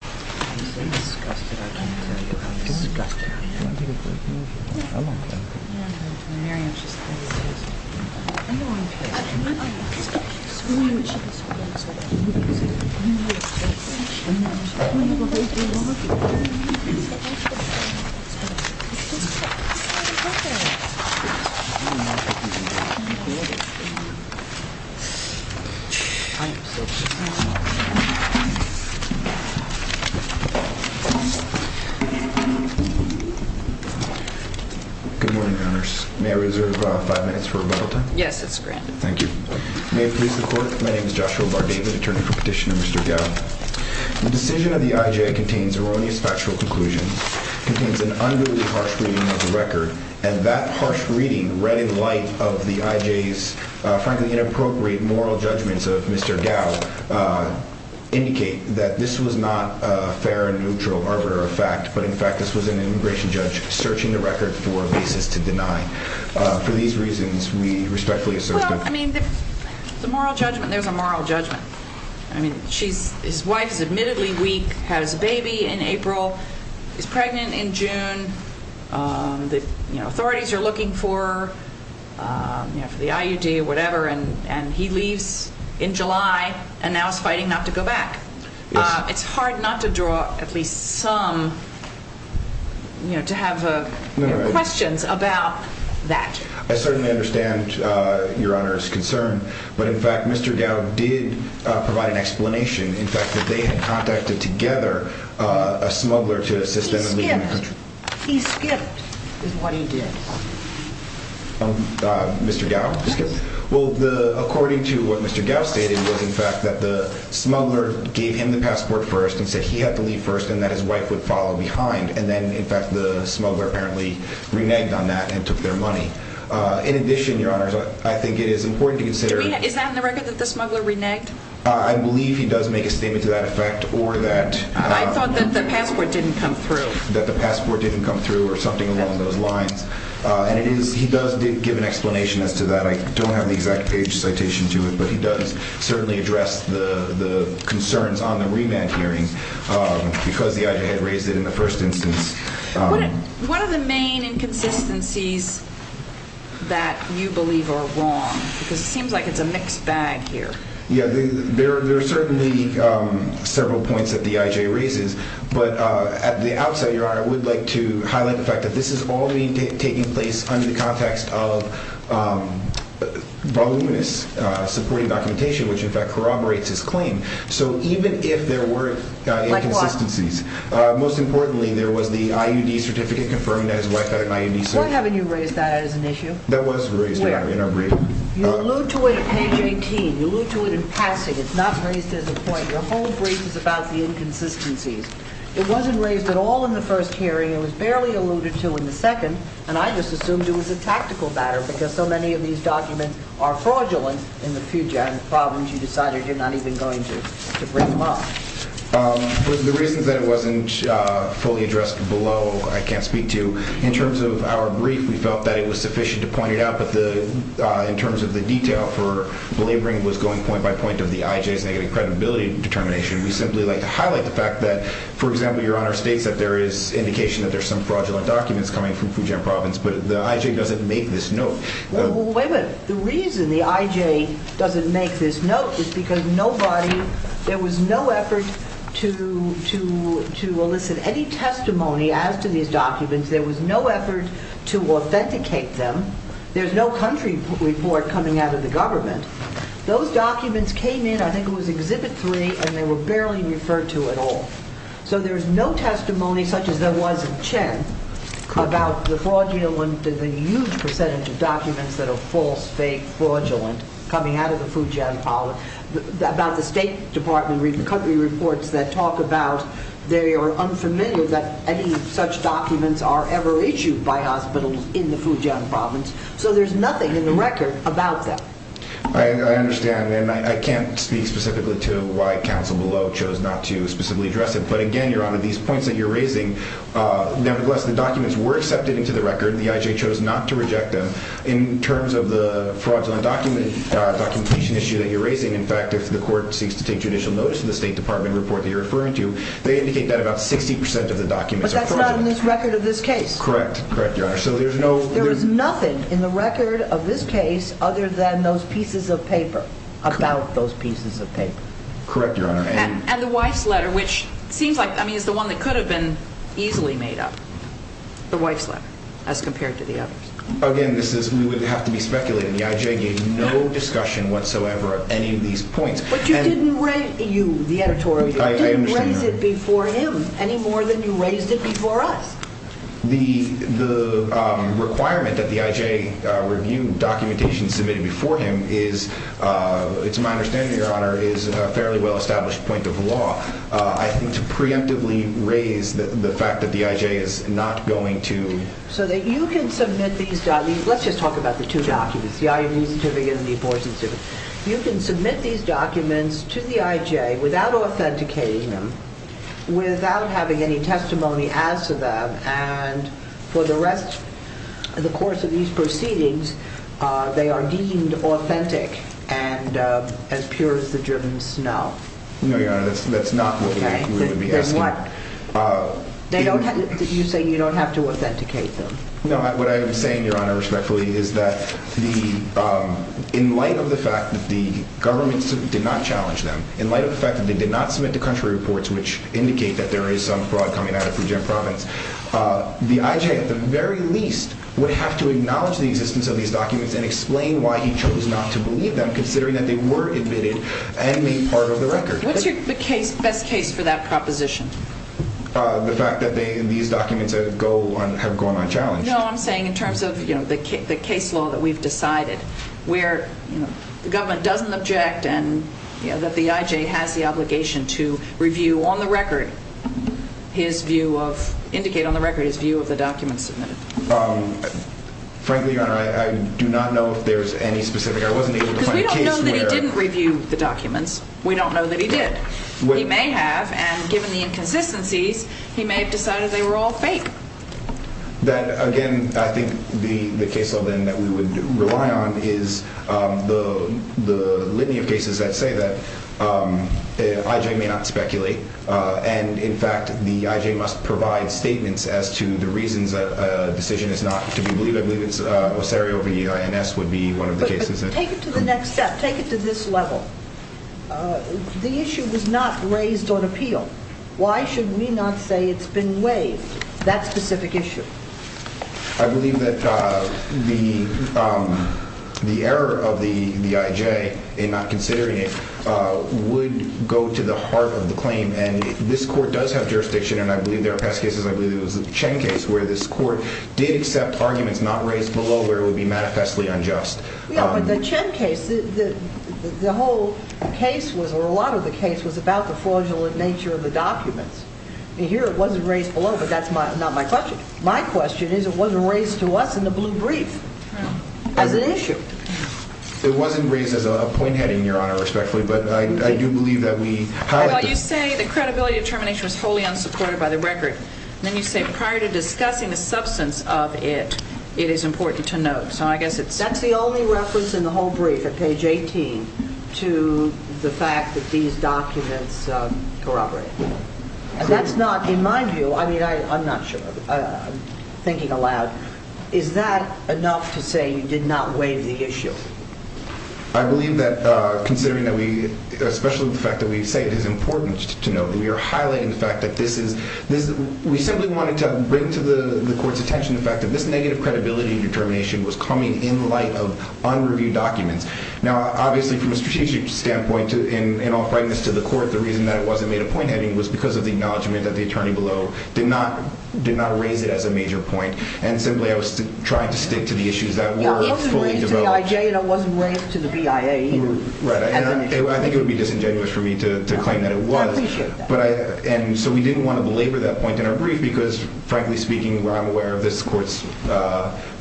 I am so disgusted, I can't tell you how disgusted I am. Good morning, may I reserve five minutes for rebuttal time? Yes, it's granted. Thank you. May it please the court, my name is Joshua Bardavid, attorney for Petitioner Mr. Gow. The decision of the IJ contains erroneous factual conclusions, contains an unduly harsh reading of the record and that harsh reading read in light of the IJ's frankly inappropriate moral judgments of Mr. Gow indicate that this was not a fair and neutral arbiter of fact, but in fact this was an immigration judge searching the record for basis to deny. For these reasons we respectfully assert that There's a moral judgment. His wife is admittedly weak, has a baby in April, is pregnant in June, authorities are looking for the IUD or whatever and he leaves in July and now is fighting not to go back. It's hard not to draw at least some, you know, to have questions about that. I certainly understand your Honor's concern, but in fact Mr. Gow did provide an explanation in fact that they had contacted together a smuggler to assist them in leaving the country. He skipped, he skipped is what he did. Mr. Gow? He skipped. Well, according to what Mr. Gow stated was in fact that the smuggler gave him the passport first and said he had to leave first and that his wife would follow behind and then in fact the smuggler apparently reneged on that and took their money. In addition, Your Honor, I think it is important to consider Is that in the record that the smuggler reneged? I believe he does make a statement to that effect or that I thought that the passport didn't come through. or something along those lines. And he does give an explanation as to that. I don't have the exact page citation to it, but he does certainly address the concerns on the remand hearing because the IJ had raised it in the first instance. What are the main inconsistencies that you believe are wrong? Because it seems like it's a mixed bag here. Yeah, there are certainly several points that the IJ raises. But at the outset, Your Honor, I would like to highlight the fact that this is all taking place under the context of voluminous supporting documentation, which in fact corroborates his claim. So even if there were inconsistencies, most importantly, there was the IUD certificate confirmed that his wife had an IUD. Why haven't you raised that as an issue? That was raised in our briefing. You allude to it at page 18. You allude to it in passing. It's not raised as a point. Your whole brief is about the inconsistencies. It wasn't raised at all in the first hearing. It was barely alluded to in the second. And I just assumed it was a tactical matter because so many of these documents are fraudulent in the future. And the problem is you decided you're not even going to bring them up. The reasons that it wasn't fully addressed below I can't speak to. In terms of our brief, we felt that it was sufficient to point it out. But in terms of the detail for belaboring what's going point by point of the IJ's negative credibility determination, we simply like to highlight the fact that, for example, Your Honor states that there is indication that there's some fraudulent documents coming from Fujian province, but the IJ doesn't make this note. Wait a minute. The reason the IJ doesn't make this note is because nobody, there was no effort to elicit any testimony as to these documents. There was no effort to authenticate them. There's no country report coming out of the government. Those documents came in, I think it was Exhibit 3, and they were barely referred to at all. So there's no testimony, such as there was in Chen, about the fraudulent, the huge percentage of documents that are false, fake, fraudulent, coming out of the Fujian province, about the State Department country reports that talk about, they are unfamiliar that any such documents are ever issued by hospitals in the Fujian province. So there's nothing in the record about that. I understand, and I can't speak specifically to why counsel below chose not to specifically address it. But again, Your Honor, these points that you're raising, nevertheless, the documents were accepted into the record. The IJ chose not to reject them. In terms of the fraudulent documentation issue that you're raising, in fact, if the court seeks to take judicial notice of the State Department report that you're referring to, they indicate that about 60% of the documents are fraudulent. But that's not in the record of this case. Correct. Correct, Your Honor. There is nothing in the record of this case other than those pieces of paper, about those pieces of paper. Correct, Your Honor. And the wife's letter, which seems like, I mean, is the one that could have been easily made up, the wife's letter, as compared to the others. Again, this is, we would have to be speculating. The IJ gave no discussion whatsoever of any of these points. But you didn't raise, you, the editorial, you didn't raise it before him any more than you raised it before us. The requirement that the IJ review documentation submitted before him is, it's my understanding, Your Honor, is a fairly well-established point of law. I think to preemptively raise the fact that the IJ is not going to. So that you can submit these documents, let's just talk about the two documents, the IOD certificate and the abortion certificate. You can submit these documents to the IJ without authenticating them, without having any testimony as to them, and for the rest, the course of these proceedings, they are deemed authentic and as pure as the German snow. No, Your Honor, that's not what we would be asking. You say you don't have to authenticate them. No, what I'm saying, Your Honor, respectfully, is that in light of the fact that the government did not challenge them, in light of the fact that they did not submit to country reports which indicate that there is some fraud coming at it from Jim Providence, the IJ, at the very least, would have to acknowledge the existence of these documents and explain why he chose not to believe them, considering that they were admitted and made part of the record. What's your best case for that proposition? The fact that these documents have gone unchallenged. No, I'm saying in terms of the case law that we've decided, where the government doesn't object and that the IJ has the obligation to review on the record, indicate on the record, his view of the documents submitted. Frankly, Your Honor, I do not know if there's any specific, I wasn't able to find a case where... He did. He may have, and given the inconsistencies, he may have decided they were all fake. Then, again, I think the case law, then, that we would rely on is the litany of cases that say that IJ may not speculate, and, in fact, the IJ must provide statements as to the reasons that a decision is not to be believed. I believe it's Osario v. INS would be one of the cases that... Take it to the next step. Take it to this level. The issue was not raised on appeal. Why should we not say it's been waived, that specific issue? I believe that the error of the IJ in not considering it would go to the heart of the claim, and this court does have jurisdiction, and I believe there are past cases. I believe it was the Chen case where this court did accept arguments not raised below where it would be manifestly unjust. Yeah, but the Chen case, the whole case, or a lot of the case, was about the fraudulent nature of the documents. Here, it wasn't raised below, but that's not my question. My question is it wasn't raised to us in the blue brief as an issue. It wasn't raised as a point heading, Your Honor, respectfully, but I do believe that we... Well, you say the credibility determination was wholly unsupported by the record, and then you say prior to discussing the substance of it, it is important to note, so I guess it's... That's the only reference in the whole brief at page 18 to the fact that these documents corroborated. That's not, in my view, I mean, I'm not sure. I'm thinking aloud. Is that enough to say you did not waive the issue? I believe that considering that we, especially with the fact that we say it is important to note that we are highlighting the fact that this is... We simply wanted to bring to the court's attention the fact that this negative credibility determination was coming in light of unreviewed documents. Now, obviously, from a strategic standpoint, in all frankness to the court, the reason that it wasn't made a point heading was because of the acknowledgement that the attorney below did not raise it as a major point, and simply I was trying to stick to the issues that were fully developed. Yeah, I wasn't raised to the IJ, and I wasn't raised to the BIA either. Right, and I think it would be disingenuous for me to claim that it was. I appreciate that. And so we didn't want to belabor that point in our brief because, frankly speaking, I'm aware of this court's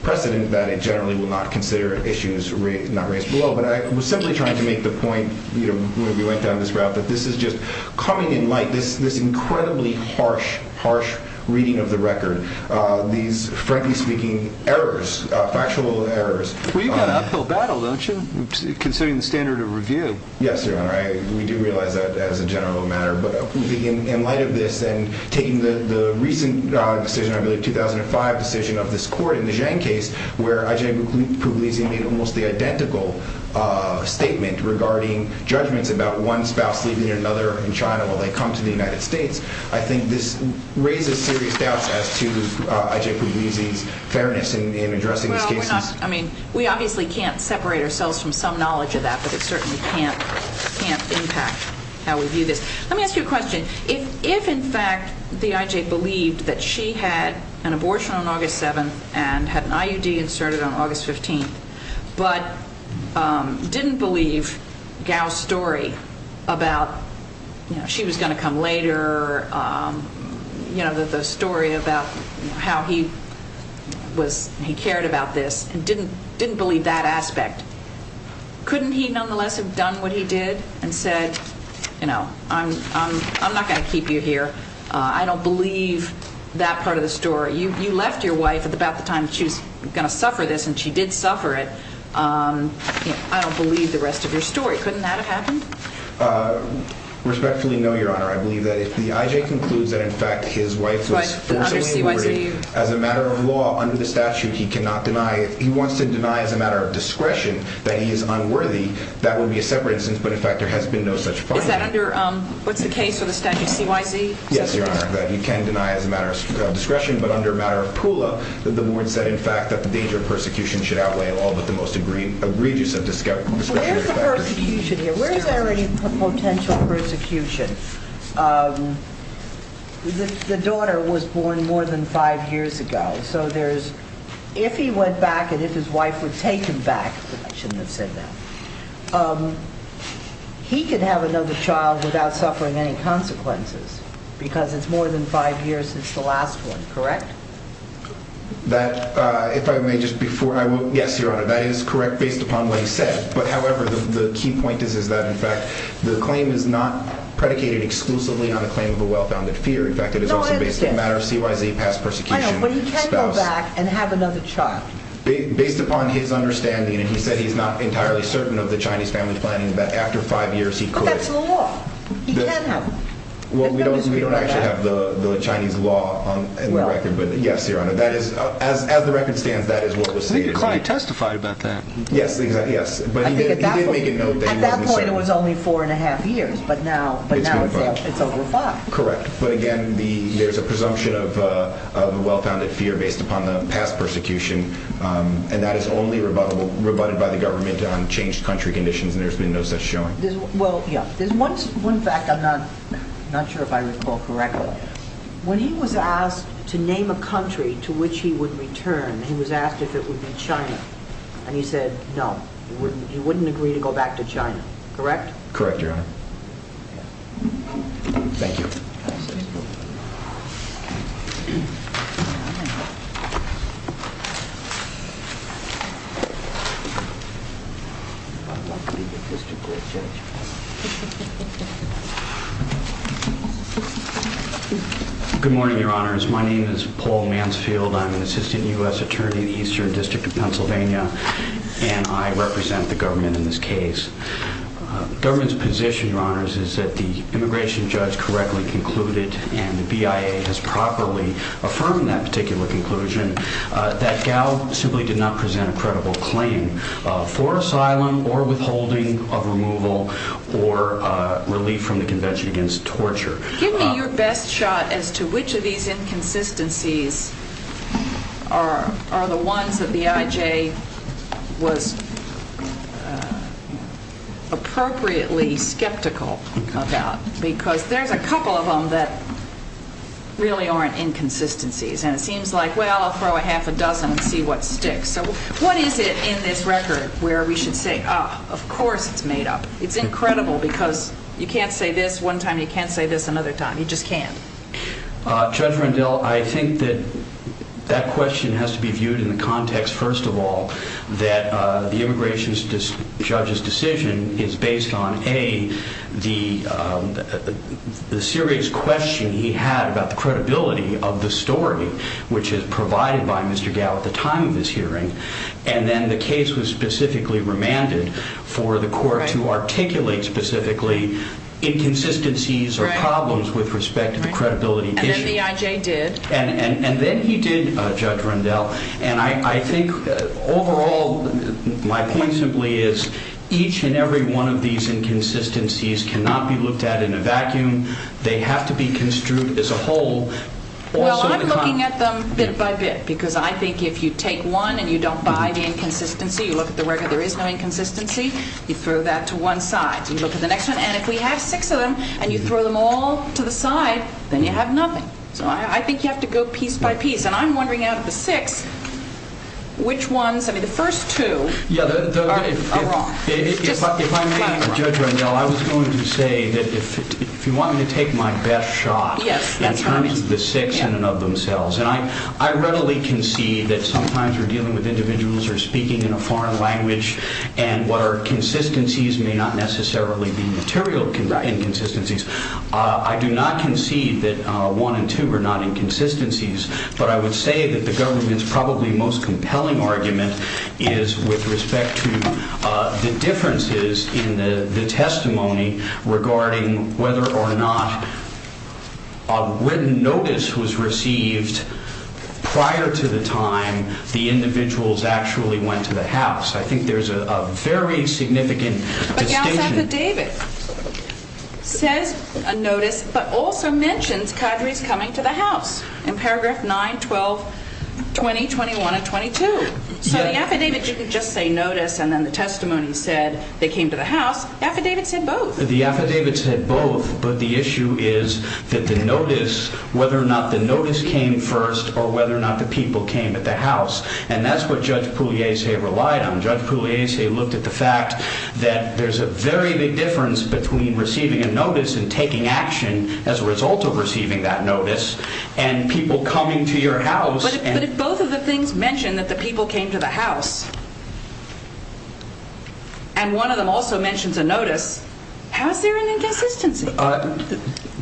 precedent that it generally will not consider issues not raised below, but I was simply trying to make the point when we went down this route that this is just coming in light, this incredibly harsh, harsh reading of the record, these, frankly speaking, errors, factual errors. Well, you've got an uphill battle, don't you, considering the standard of review? Yes, Your Honor, we do realize that as a general matter, but in light of this and taking the recent decision, I believe 2005 decision of this court in the Zhang case, where IJ Pugliese made almost the identical statement regarding judgments about one spouse leaving another in China while they come to the United States, I think this raises serious doubts as to IJ Pugliese's fairness in addressing these cases. Well, I mean, we obviously can't separate ourselves from some knowledge of that, but it certainly can't impact how we view this. Let me ask you a question. If, in fact, the IJ believed that she had an abortion on August 7th and had an IUD inserted on August 15th, but didn't believe Gao's story about, you know, she was going to come later, you know, the story about how he cared about this and didn't believe that aspect, couldn't he nonetheless have done what he did and said, you know, I'm not going to keep you here. I don't believe that part of the story. You left your wife at about the time she was going to suffer this, and she did suffer it. I don't believe the rest of your story. Couldn't that have happened? Respectfully, no, Your Honor. I believe that if the IJ concludes that, in fact, his wife was forced to leave as a matter of law under the statute, he wants to deny as a matter of discretion that he is unworthy. That would be a separate instance, but, in fact, there has been no such finding. Is that under what's the case of the statute CYZ? Yes, Your Honor, that you can deny as a matter of discretion, but under a matter of PULA, the board said, in fact, that the danger of persecution should outweigh all but the most egregious of persecutions. Where is the persecution here? Where is there any potential persecution? The daughter was born more than five years ago, so if he went back and if his wife would take him back, I shouldn't have said that, he could have another child without suffering any consequences because it's more than five years since the last one, correct? That, if I may, just before I will, yes, Your Honor, that is correct based upon what he said, but, however, the key point is that, in fact, the claim is not predicated exclusively on a claim of a well-founded fear. In fact, it is also based on a matter of CYZ past persecution. I know, but he can go back and have another child. Based upon his understanding, and he said he's not entirely certain of the Chinese family planning, that after five years he could… But that's the law. He can have… Well, we don't actually have the Chinese law in the record, but, yes, Your Honor, as the record stands, that is what was stated. The client testified about that. Yes, exactly, yes, but he did make a note that he wasn't certain. At that point, it was only four and a half years, but now it's over five. Correct, but, again, there's a presumption of a well-founded fear based upon the past persecution, and that is only rebutted by the government on changed country conditions, and there's been no such showing. Well, yes, there's one fact I'm not sure if I recall correctly. When he was asked to name a country to which he would return, he was asked if it would be China, and he said no, he wouldn't agree to go back to China, correct? Correct, Your Honor. Thank you. Good morning, Your Honors. My name is Paul Mansfield. I'm an assistant U.S. attorney in the Eastern District of Pennsylvania, and I represent the government in this case. The government's position, Your Honors, is that the immigration judge correctly concluded, and the BIA has properly affirmed that particular conclusion, that Gao simply did not present a credible claim for asylum or withholding of removal or relief from the Convention Against Torture. Give me your best shot as to which of these inconsistencies are the ones that the IJ was appropriately skeptical about, because there's a couple of them that really aren't inconsistencies, and it seems like, well, I'll throw a half a dozen and see what sticks. So what is it in this record where we should say, ah, of course it's made up? It's incredible because you can't say this one time, you can't say this another time. You just can't. Judge Rendell, I think that that question has to be viewed in the context, first of all, that the immigration judge's decision is based on, A, the serious question he had about the credibility of the story, which is provided by Mr. Gao at the time of this hearing, and then the case was specifically remanded for the court to articulate specifically inconsistencies or problems with respect to the credibility issue. And then the IJ did. And then he did, Judge Rendell. And I think overall, my point simply is, each and every one of these inconsistencies cannot be looked at in a vacuum. They have to be construed as a whole. Well, I'm looking at them bit by bit because I think if you take one and you don't buy the inconsistency, you look at the record, there is no inconsistency, you throw that to one side, you look at the next one, and if we have six of them and you throw them all to the side, then you have nothing. So I think you have to go piece by piece. And I'm wondering out of the six, which ones, I mean, the first two are wrong. If I may, Judge Rendell, I was going to say that if you want me to take my best shot in terms of the six in and of themselves, and I readily concede that sometimes we're dealing with individuals who are speaking in a foreign language and what are consistencies may not necessarily be material inconsistencies. I do not concede that one and two are not inconsistencies, but I would say that the government's probably most compelling argument is with respect to the differences in the testimony regarding whether or not a written notice was received prior to the time the individuals actually went to the house. I think there's a very significant distinction. This affidavit says a notice but also mentions cadres coming to the house in paragraph 9, 12, 20, 21, and 22. So the affidavit didn't just say notice and then the testimony said they came to the house. The affidavit said both. The affidavit said both, but the issue is that the notice, whether or not the notice came first or whether or not the people came at the house, and that's what Judge Pugliese relied on. Judge Pugliese looked at the fact that there's a very big difference between receiving a notice and taking action as a result of receiving that notice and people coming to your house. But if both of the things mention that the people came to the house and one of them also mentions a notice, how is there an inconsistency?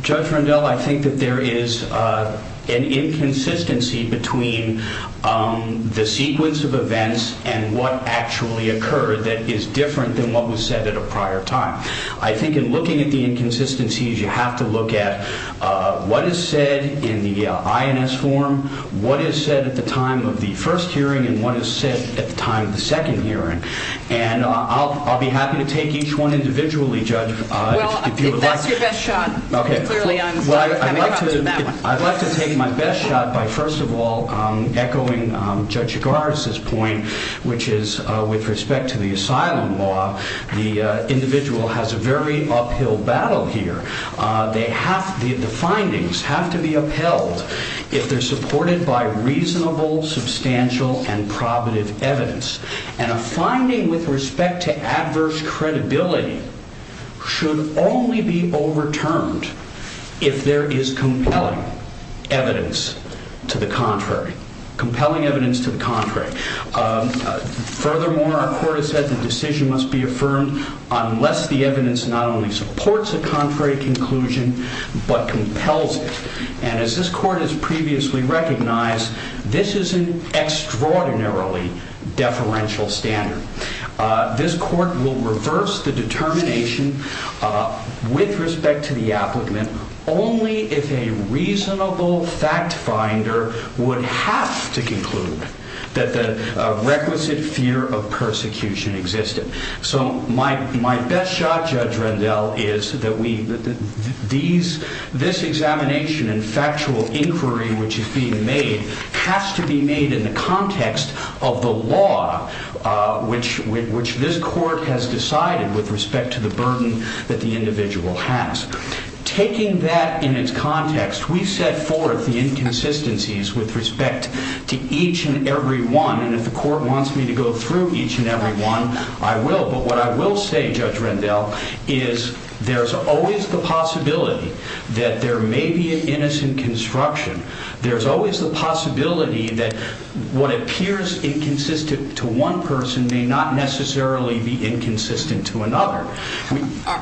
Judge Rendell, I think that there is an inconsistency between the sequence of events and what actually occurred that is different than what was said at a prior time. I think in looking at the inconsistencies, you have to look at what is said in the INS form, what is said at the time of the first hearing, and what is said at the time of the second hearing. And I'll be happy to take each one individually, Judge, if you would like. What's your best shot? I'd like to take my best shot by, first of all, echoing Judge Chigars' point, which is with respect to the asylum law, the individual has a very uphill battle here. The findings have to be upheld if they're supported by reasonable, substantial, and probative evidence. And a finding with respect to adverse credibility should only be overturned if there is compelling evidence to the contrary. Compelling evidence to the contrary. Furthermore, our court has said the decision must be affirmed unless the evidence not only supports a contrary conclusion, but compels it. And as this court has previously recognized, this is an extraordinarily deferential standard. This court will reverse the determination with respect to the applicant only if a reasonable fact finder would have to conclude that the requisite fear of persecution existed. So my best shot, Judge Rendell, is that this examination and factual inquiry which is being made has to be made in the context of the law which this court has decided with respect to the burden that the individual has. Taking that in its context, we set forth the inconsistencies with respect to each and every one. And if the court wants me to go through each and every one, I will. But what I will say, Judge Rendell, is there's always the possibility that there may be an innocent construction. There's always the possibility that what appears inconsistent to one person may not necessarily be inconsistent to another.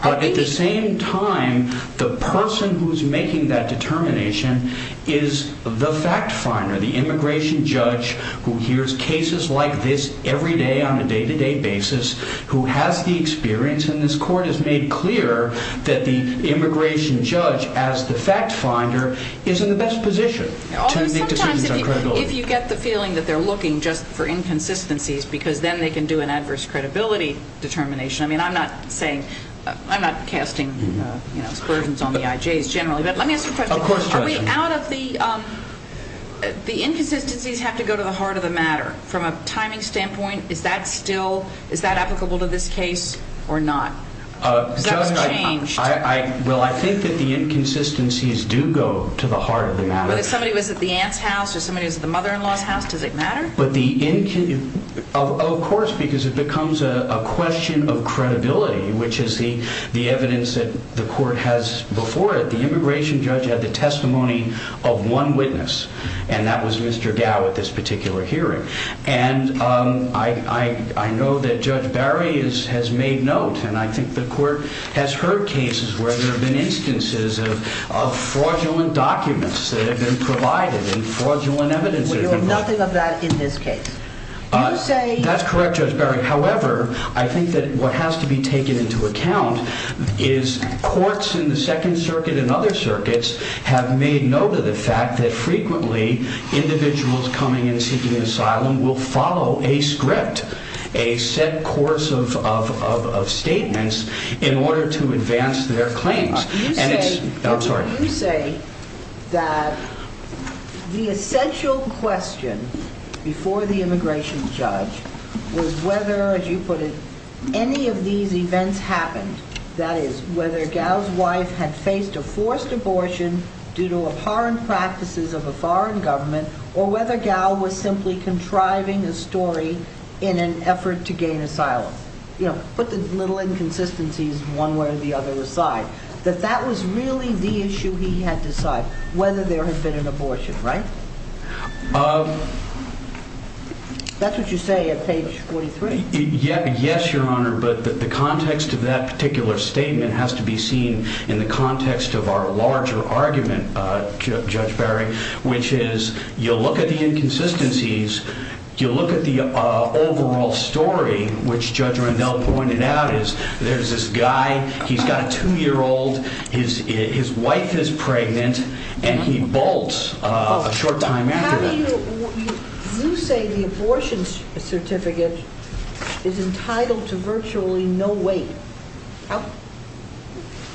But at the same time, the person who's making that determination is the fact finder, the immigration judge who hears cases like this every day on a day-to-day basis, who has the experience, and this court has made clear that the immigration judge as the fact finder is in the best position to make decisions on credibility. Although sometimes if you get the feeling that they're looking just for inconsistencies because then they can do an adverse credibility determination. I mean, I'm not casting aspersions on the IJs generally, but let me ask you a question. Of course, Judge. Are we out of the inconsistencies have to go to the heart of the matter? From a timing standpoint, is that applicable to this case or not? Because that was changed. Well, I think that the inconsistencies do go to the heart of the matter. But if somebody was at the aunt's house or somebody was at the mother-in-law's house, does it matter? Of course, because it becomes a question of credibility, which is the evidence that the court has before it. But the immigration judge had the testimony of one witness, and that was Mr. Gow at this particular hearing. And I know that Judge Barry has made note, and I think the court has heard cases where there have been instances of fraudulent documents that have been provided and fraudulent evidence. There was nothing of that in this case. That's correct, Judge Barry. However, I think that what has to be taken into account is courts in the Second Circuit and other circuits have made note of the fact that frequently individuals coming in seeking asylum will follow a script, a set course of statements in order to advance their claims. You say that the essential question before the immigration judge was whether, as you put it, any of these events happened. That is, whether Gow's wife had faced a forced abortion due to abhorrent practices of a foreign government or whether Gow was simply contriving a story in an effort to gain asylum. Put the little inconsistencies one way or the other aside. That that was really the issue he had to decide, whether there had been an abortion, right? That's what you say at page 43. Yes, Your Honor, but the context of that particular statement has to be seen in the context of our larger argument, Judge Barry, which is you'll look at the inconsistencies, you'll look at the overall story, which Judge Randell pointed out, is there's this guy, he's got a two-year-old, his wife is pregnant, and he bolts a short time after that. You say the abortion certificate is entitled to virtually no weight.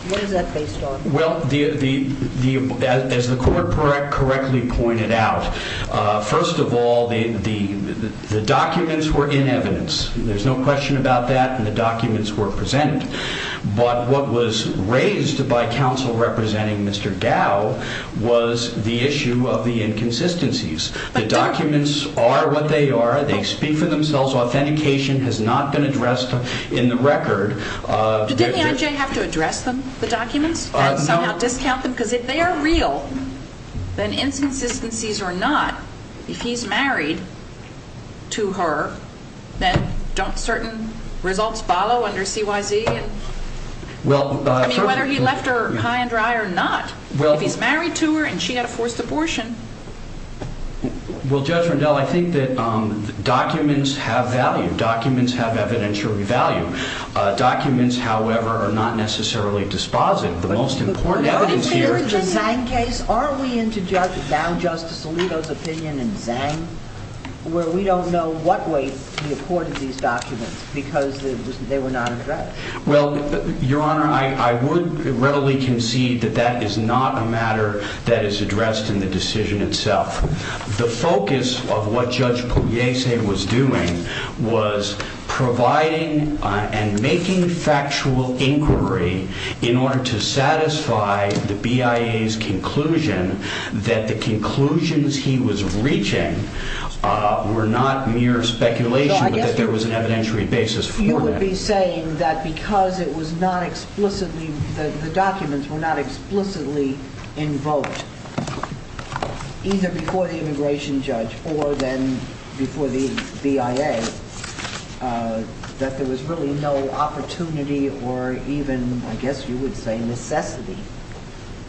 What is that based on? Well, as the Court correctly pointed out, first of all, the documents were in evidence. There's no question about that, and the documents were presented. But what was raised by counsel representing Mr. Gow was the issue of the inconsistencies. The documents are what they are. They speak for themselves. Authentication has not been addressed in the record. Did the IJ have to address them, the documents, and somehow discount them? Because if they are real, then inconsistencies or not, if he's married to her, then don't certain results follow under CYZ? I mean, whether he left her high and dry or not, if he's married to her and she had a forced abortion. Well, Judge Randell, I think that documents have value. Documents have evidentiary value. Documents, however, are not necessarily dispositive. The most important evidence here... Are we into Judge Gow, Justice Alito's opinion in Zhang, where we don't know what weight he accorded these documents because they were not addressed? Well, Your Honor, I would readily concede that that is not a matter that is addressed in the decision itself. The focus of what Judge Pugliese was doing was providing and making factual inquiry in order to satisfy the BIA's conclusion that the conclusions he was reaching were not mere speculation, but that there was an evidentiary basis for that. Are you saying that because the documents were not explicitly invoked, either before the immigration judge or then before the BIA, that there was really no opportunity or even, I guess you would say, necessity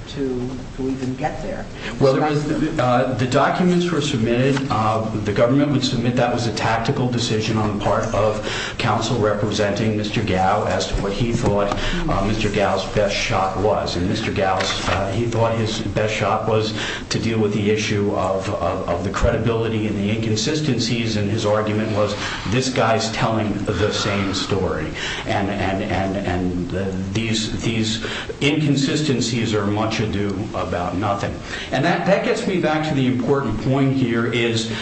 to even get there? Well, the documents were submitted. The government would submit that was a tactical decision on the part of counsel representing Mr. Gow as to what he thought Mr. Gow's best shot was. And Mr. Gow, he thought his best shot was to deal with the issue of the credibility and the inconsistencies and his argument was, this guy's telling the same story. And these inconsistencies are much ado about nothing. And that gets me back to the important point here is,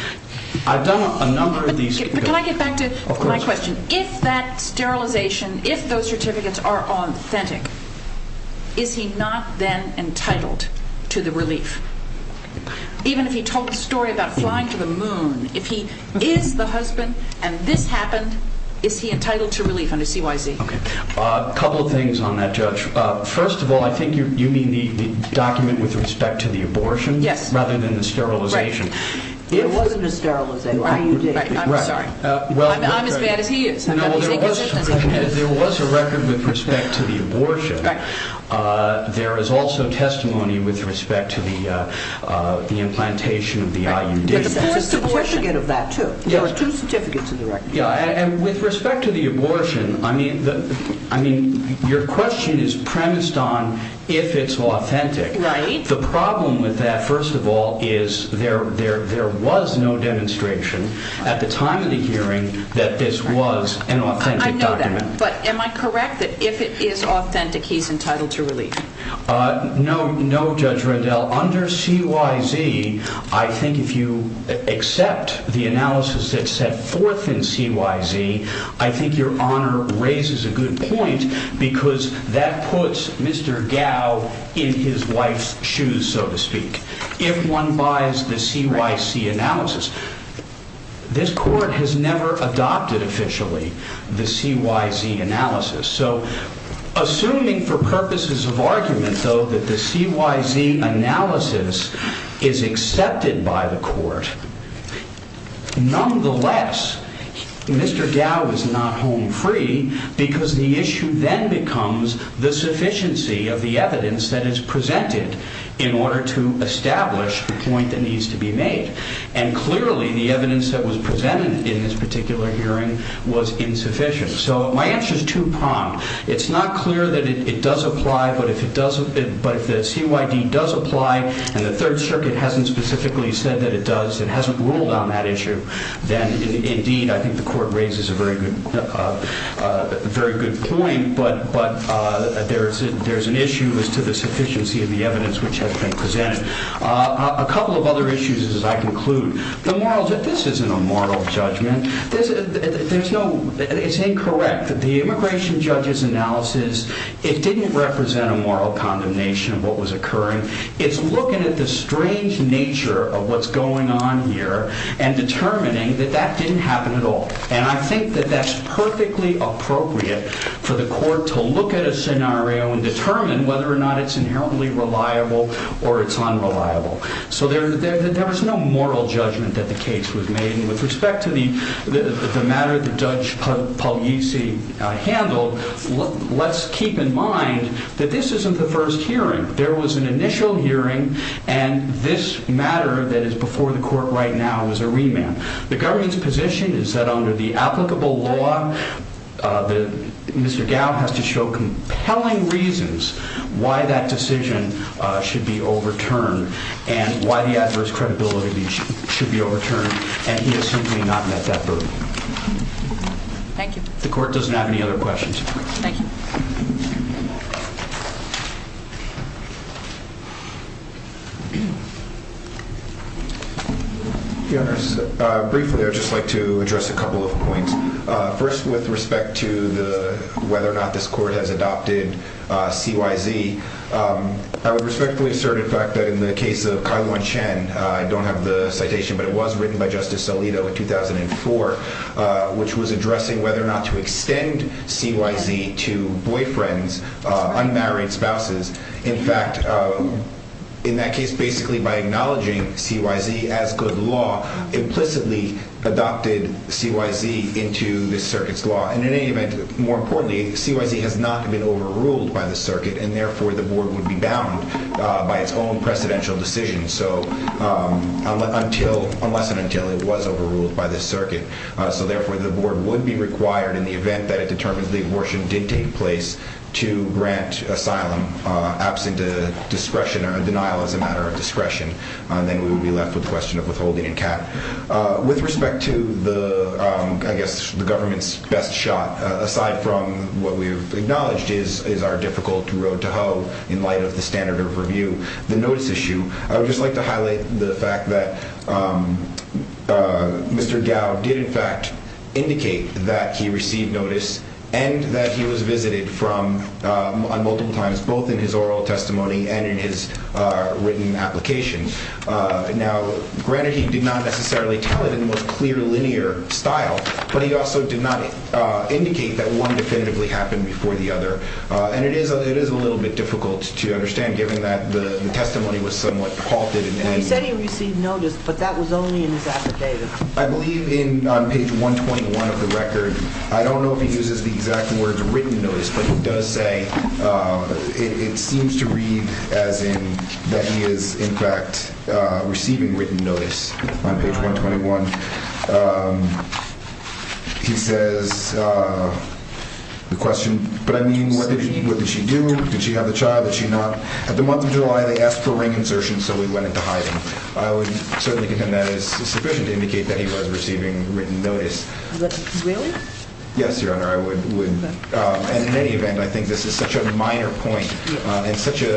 I've done a number of these... But can I get back to my question? If that sterilization, if those certificates are authentic, is he not then entitled to the relief? Even if he told the story about flying to the moon, if he is the husband and this happened, is he entitled to relief under CYZ? A couple of things on that, Judge. First of all, I think you mean the document with respect to the abortion? Yes. Rather than the sterilization? There wasn't a sterilization. I'm as bad as he is. There was a record with respect to the abortion. There is also testimony with respect to the implantation of the IUD. There are two certificates of the record. With respect to the abortion, your question is premised on if it's authentic. The problem with that, first of all, is there was no demonstration at the time of the hearing that this was an authentic document. But am I correct that if it is authentic, he's entitled to relief? No, Judge Rendell. Under CYZ, I think if you accept the analysis that's set forth in CYZ, I think your Honor raises a good point because that puts Mr. Gao in his wife's shoes, so to speak. If one buys the CYZ analysis, this Court has never adopted officially the CYZ analysis. So, assuming for purposes of argument, though, that the CYZ analysis is accepted by the Court, nonetheless, Mr. Gao is not home free because the issue then becomes the sufficiency of the evidence that is presented in order to establish that this is an authentic document. And, clearly, the evidence that was presented in this particular hearing was insufficient. So, my answer is two-pronged. It's not clear that it does apply, but if the CYZ does apply and the Third Circuit hasn't specifically said that it does, it hasn't ruled on that issue, then, indeed, I think the Court raises a very good point, but there's an issue as to the sufficiency of the evidence which has been presented. A couple of other issues, as I conclude. This isn't a moral judgment. It's incorrect. The immigration judge's analysis, it didn't represent a moral condemnation of what was occurring. It's looking at the strange nature of what's going on here and determining that that didn't happen at all. And I think that that's perfectly appropriate for the Court to look at a scenario and determine whether or not it's inherently reliable or it's unreliable. So, there's no moral judgment that the case was made. And, with respect to the matter that Judge Puglisi handled, let's keep in mind that this isn't the first hearing. There was an initial hearing, and this matter that is before the Court right now is a remand. The government's position is that under the applicable law, Mr. Gow has to show compelling reasons why that decision should be overturned and why the adverse credibility should be overturned, and he has simply not met that burden. Thank you. The Court doesn't have any other questions. Thank you. Your Honor, briefly, I'd just like to address a couple of points. First, with respect to whether or not this Court has adopted CYZ, I would respectfully assert, in fact, that in the case of Kaiyuan Chen, I don't have the citation, but it was written by Justice Alito in 2004, which was addressing whether or not to extend CYZ to boyfriends, unmarried spouses. In fact, in that case, basically by acknowledging CYZ as good law, implicitly adopted CYZ into the Circuit's law. And, in any event, more importantly, CYZ has not been overruled by the Circuit, and therefore the Board would be bound by its own precedential decision, unless and until it was overruled by the Circuit. So, therefore, the Board would be required, in the event that it determines the abortion did take place, to grant asylum, absent a discretion or a denial as a matter of discretion. Then we would be left with the question of withholding and cap. With respect to the, I guess, the government's best shot, aside from what we've acknowledged is our difficult road to hoe, in light of the standard of review, the notice issue, I would just like to highlight the fact that Mr. Gao did, in fact, indicate that he received notice and that he was visited multiple times, both in his oral testimony and in his written application. Now, granted, he did not necessarily tell it in the most clear, linear style, but he also did not indicate that one definitively happened before the other. And it is a little bit difficult to understand, given that the testimony was somewhat halted. He said he received notice, but that was only in his affidavit. I believe on page 121 of the record, I don't know if he uses the exact words written notice, but he does say it seems to read as in that he is, in fact, receiving written notice on page 121. And he says the question, but I mean, what did she do? Did she have the child? Did she not? At the month of July, they asked for ring insertion, so we went into hiding. I would certainly contend that is sufficient to indicate that he was receiving written notice. Really? Yes, Your Honor, I would. And in any event, I think this is such a minor point and such a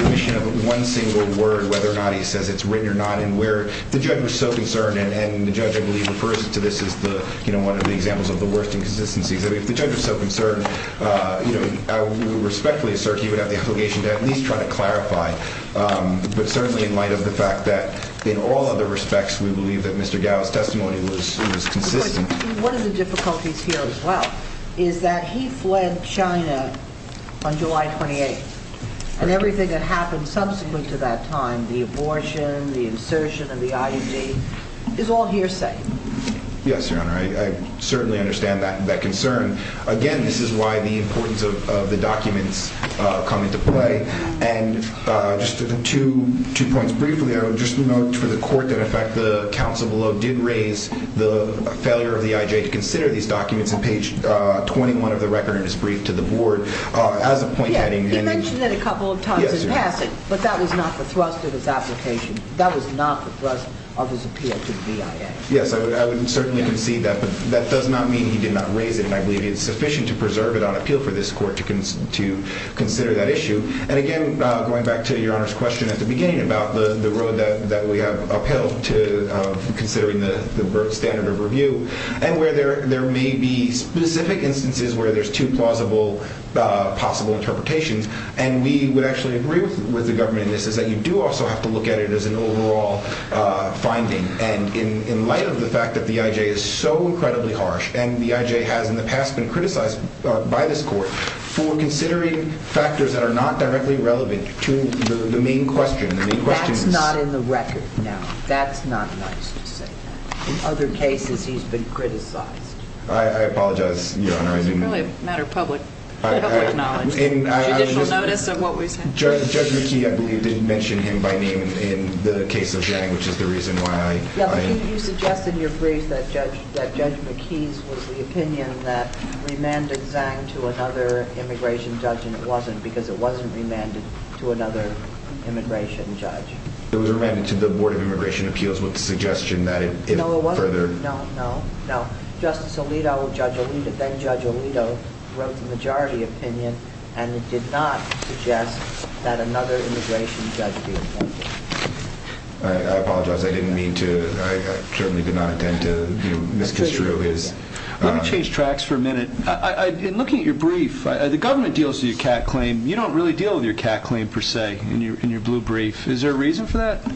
remission of one single word, whether or not he says it's written or not. And where the judge was so concerned, and the judge, I believe, refers to this as one of the examples of the worst inconsistencies. If the judge was so concerned, I would respectfully assert he would have the obligation to at least try to clarify. But certainly in light of the fact that in all other respects, we believe that Mr. Gao's testimony was consistent. One of the difficulties here as well is that he fled China on July 28th. And everything that happened subsequent to that time, the abortion, the insertion of the IUD, is all hearsay. Yes, Your Honor, I certainly understand that concern. Again, this is why the importance of the documents come into play. And just two points briefly. I would just note for the court that in fact the counsel below did raise the failure of the IJ to consider these documents on page 21 of the record in his brief to the board. He mentioned it a couple of times in passing, but that was not the thrust of his application. That was not the thrust of his appeal to the BIA. Yes, I would certainly concede that. But that does not mean he did not raise it, and I believe it is sufficient to preserve it on appeal for this court to consider that issue. And, again, going back to Your Honor's question at the beginning about the road that we have upheld to considering the standard of review and where there may be specific instances where there's two plausible possible interpretations, and we would actually agree with the government in this, is that you do also have to look at it as an overall finding. And in light of the fact that the IJ is so incredibly harsh, and the IJ has in the past been criticized by this court for considering factors that are not directly relevant to the main question. That's not in the record now. That's not nice to say that. In other cases, he's been criticized. I apologize, Your Honor. It's really a matter of public knowledge. Judicial notice of what we've said. Judge McKee, I believe, did mention him by name in the case of Zhang, which is the reason why I – Yeah, but you suggested in your brief that Judge McKee's was the opinion that remanded Zhang to another immigration judge, and it wasn't because it wasn't remanded to another immigration judge. It was remanded to the Board of Immigration Appeals with the suggestion that it further – No, it wasn't. No, no, no. Justice Alito, Judge Alito, then Judge Alito, wrote the majority opinion, and it did not suggest that another immigration judge be appointed. I apologize. I didn't mean to – I certainly did not intend to misconstrue his – Let me change tracks for a minute. In looking at your brief, the government deals with your CAT claim. You don't really deal with your CAT claim, per se, in your blue brief. Is there a reason for that?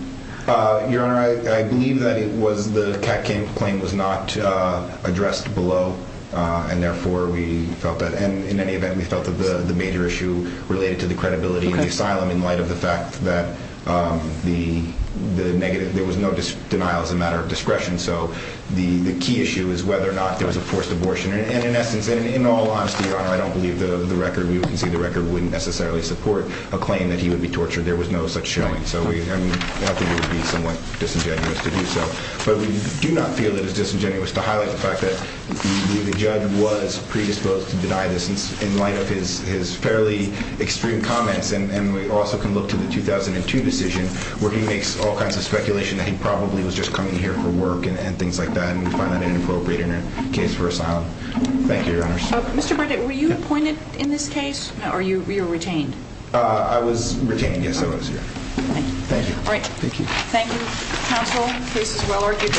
Your Honor, I believe that it was the CAT claim was not addressed below, and therefore we felt that – and in any event, we felt that the major issue related to the credibility of the asylum in light of the fact that the negative – there was no denial as a matter of discretion. So the key issue is whether or not there was a forced abortion. And in essence, in all honesty, Your Honor, I don't believe the record – we can see the record wouldn't necessarily support a claim that he would be tortured. There was no such showing. So we – I think it would be somewhat disingenuous to do so. But we do not feel it is disingenuous to highlight the fact that the judge was predisposed to deny this in light of his fairly extreme comments. And we also can look to the 2002 decision where he makes all kinds of speculation that he probably was just coming here for work and things like that, and we find that inappropriate in a case for asylum. Thank you, Your Honors. Mr. Burdett, were you appointed in this case, or were you retained? I was retained. Yes, I was here. Thank you. All right. Thank you. Thank you, counsel. The case is well argued.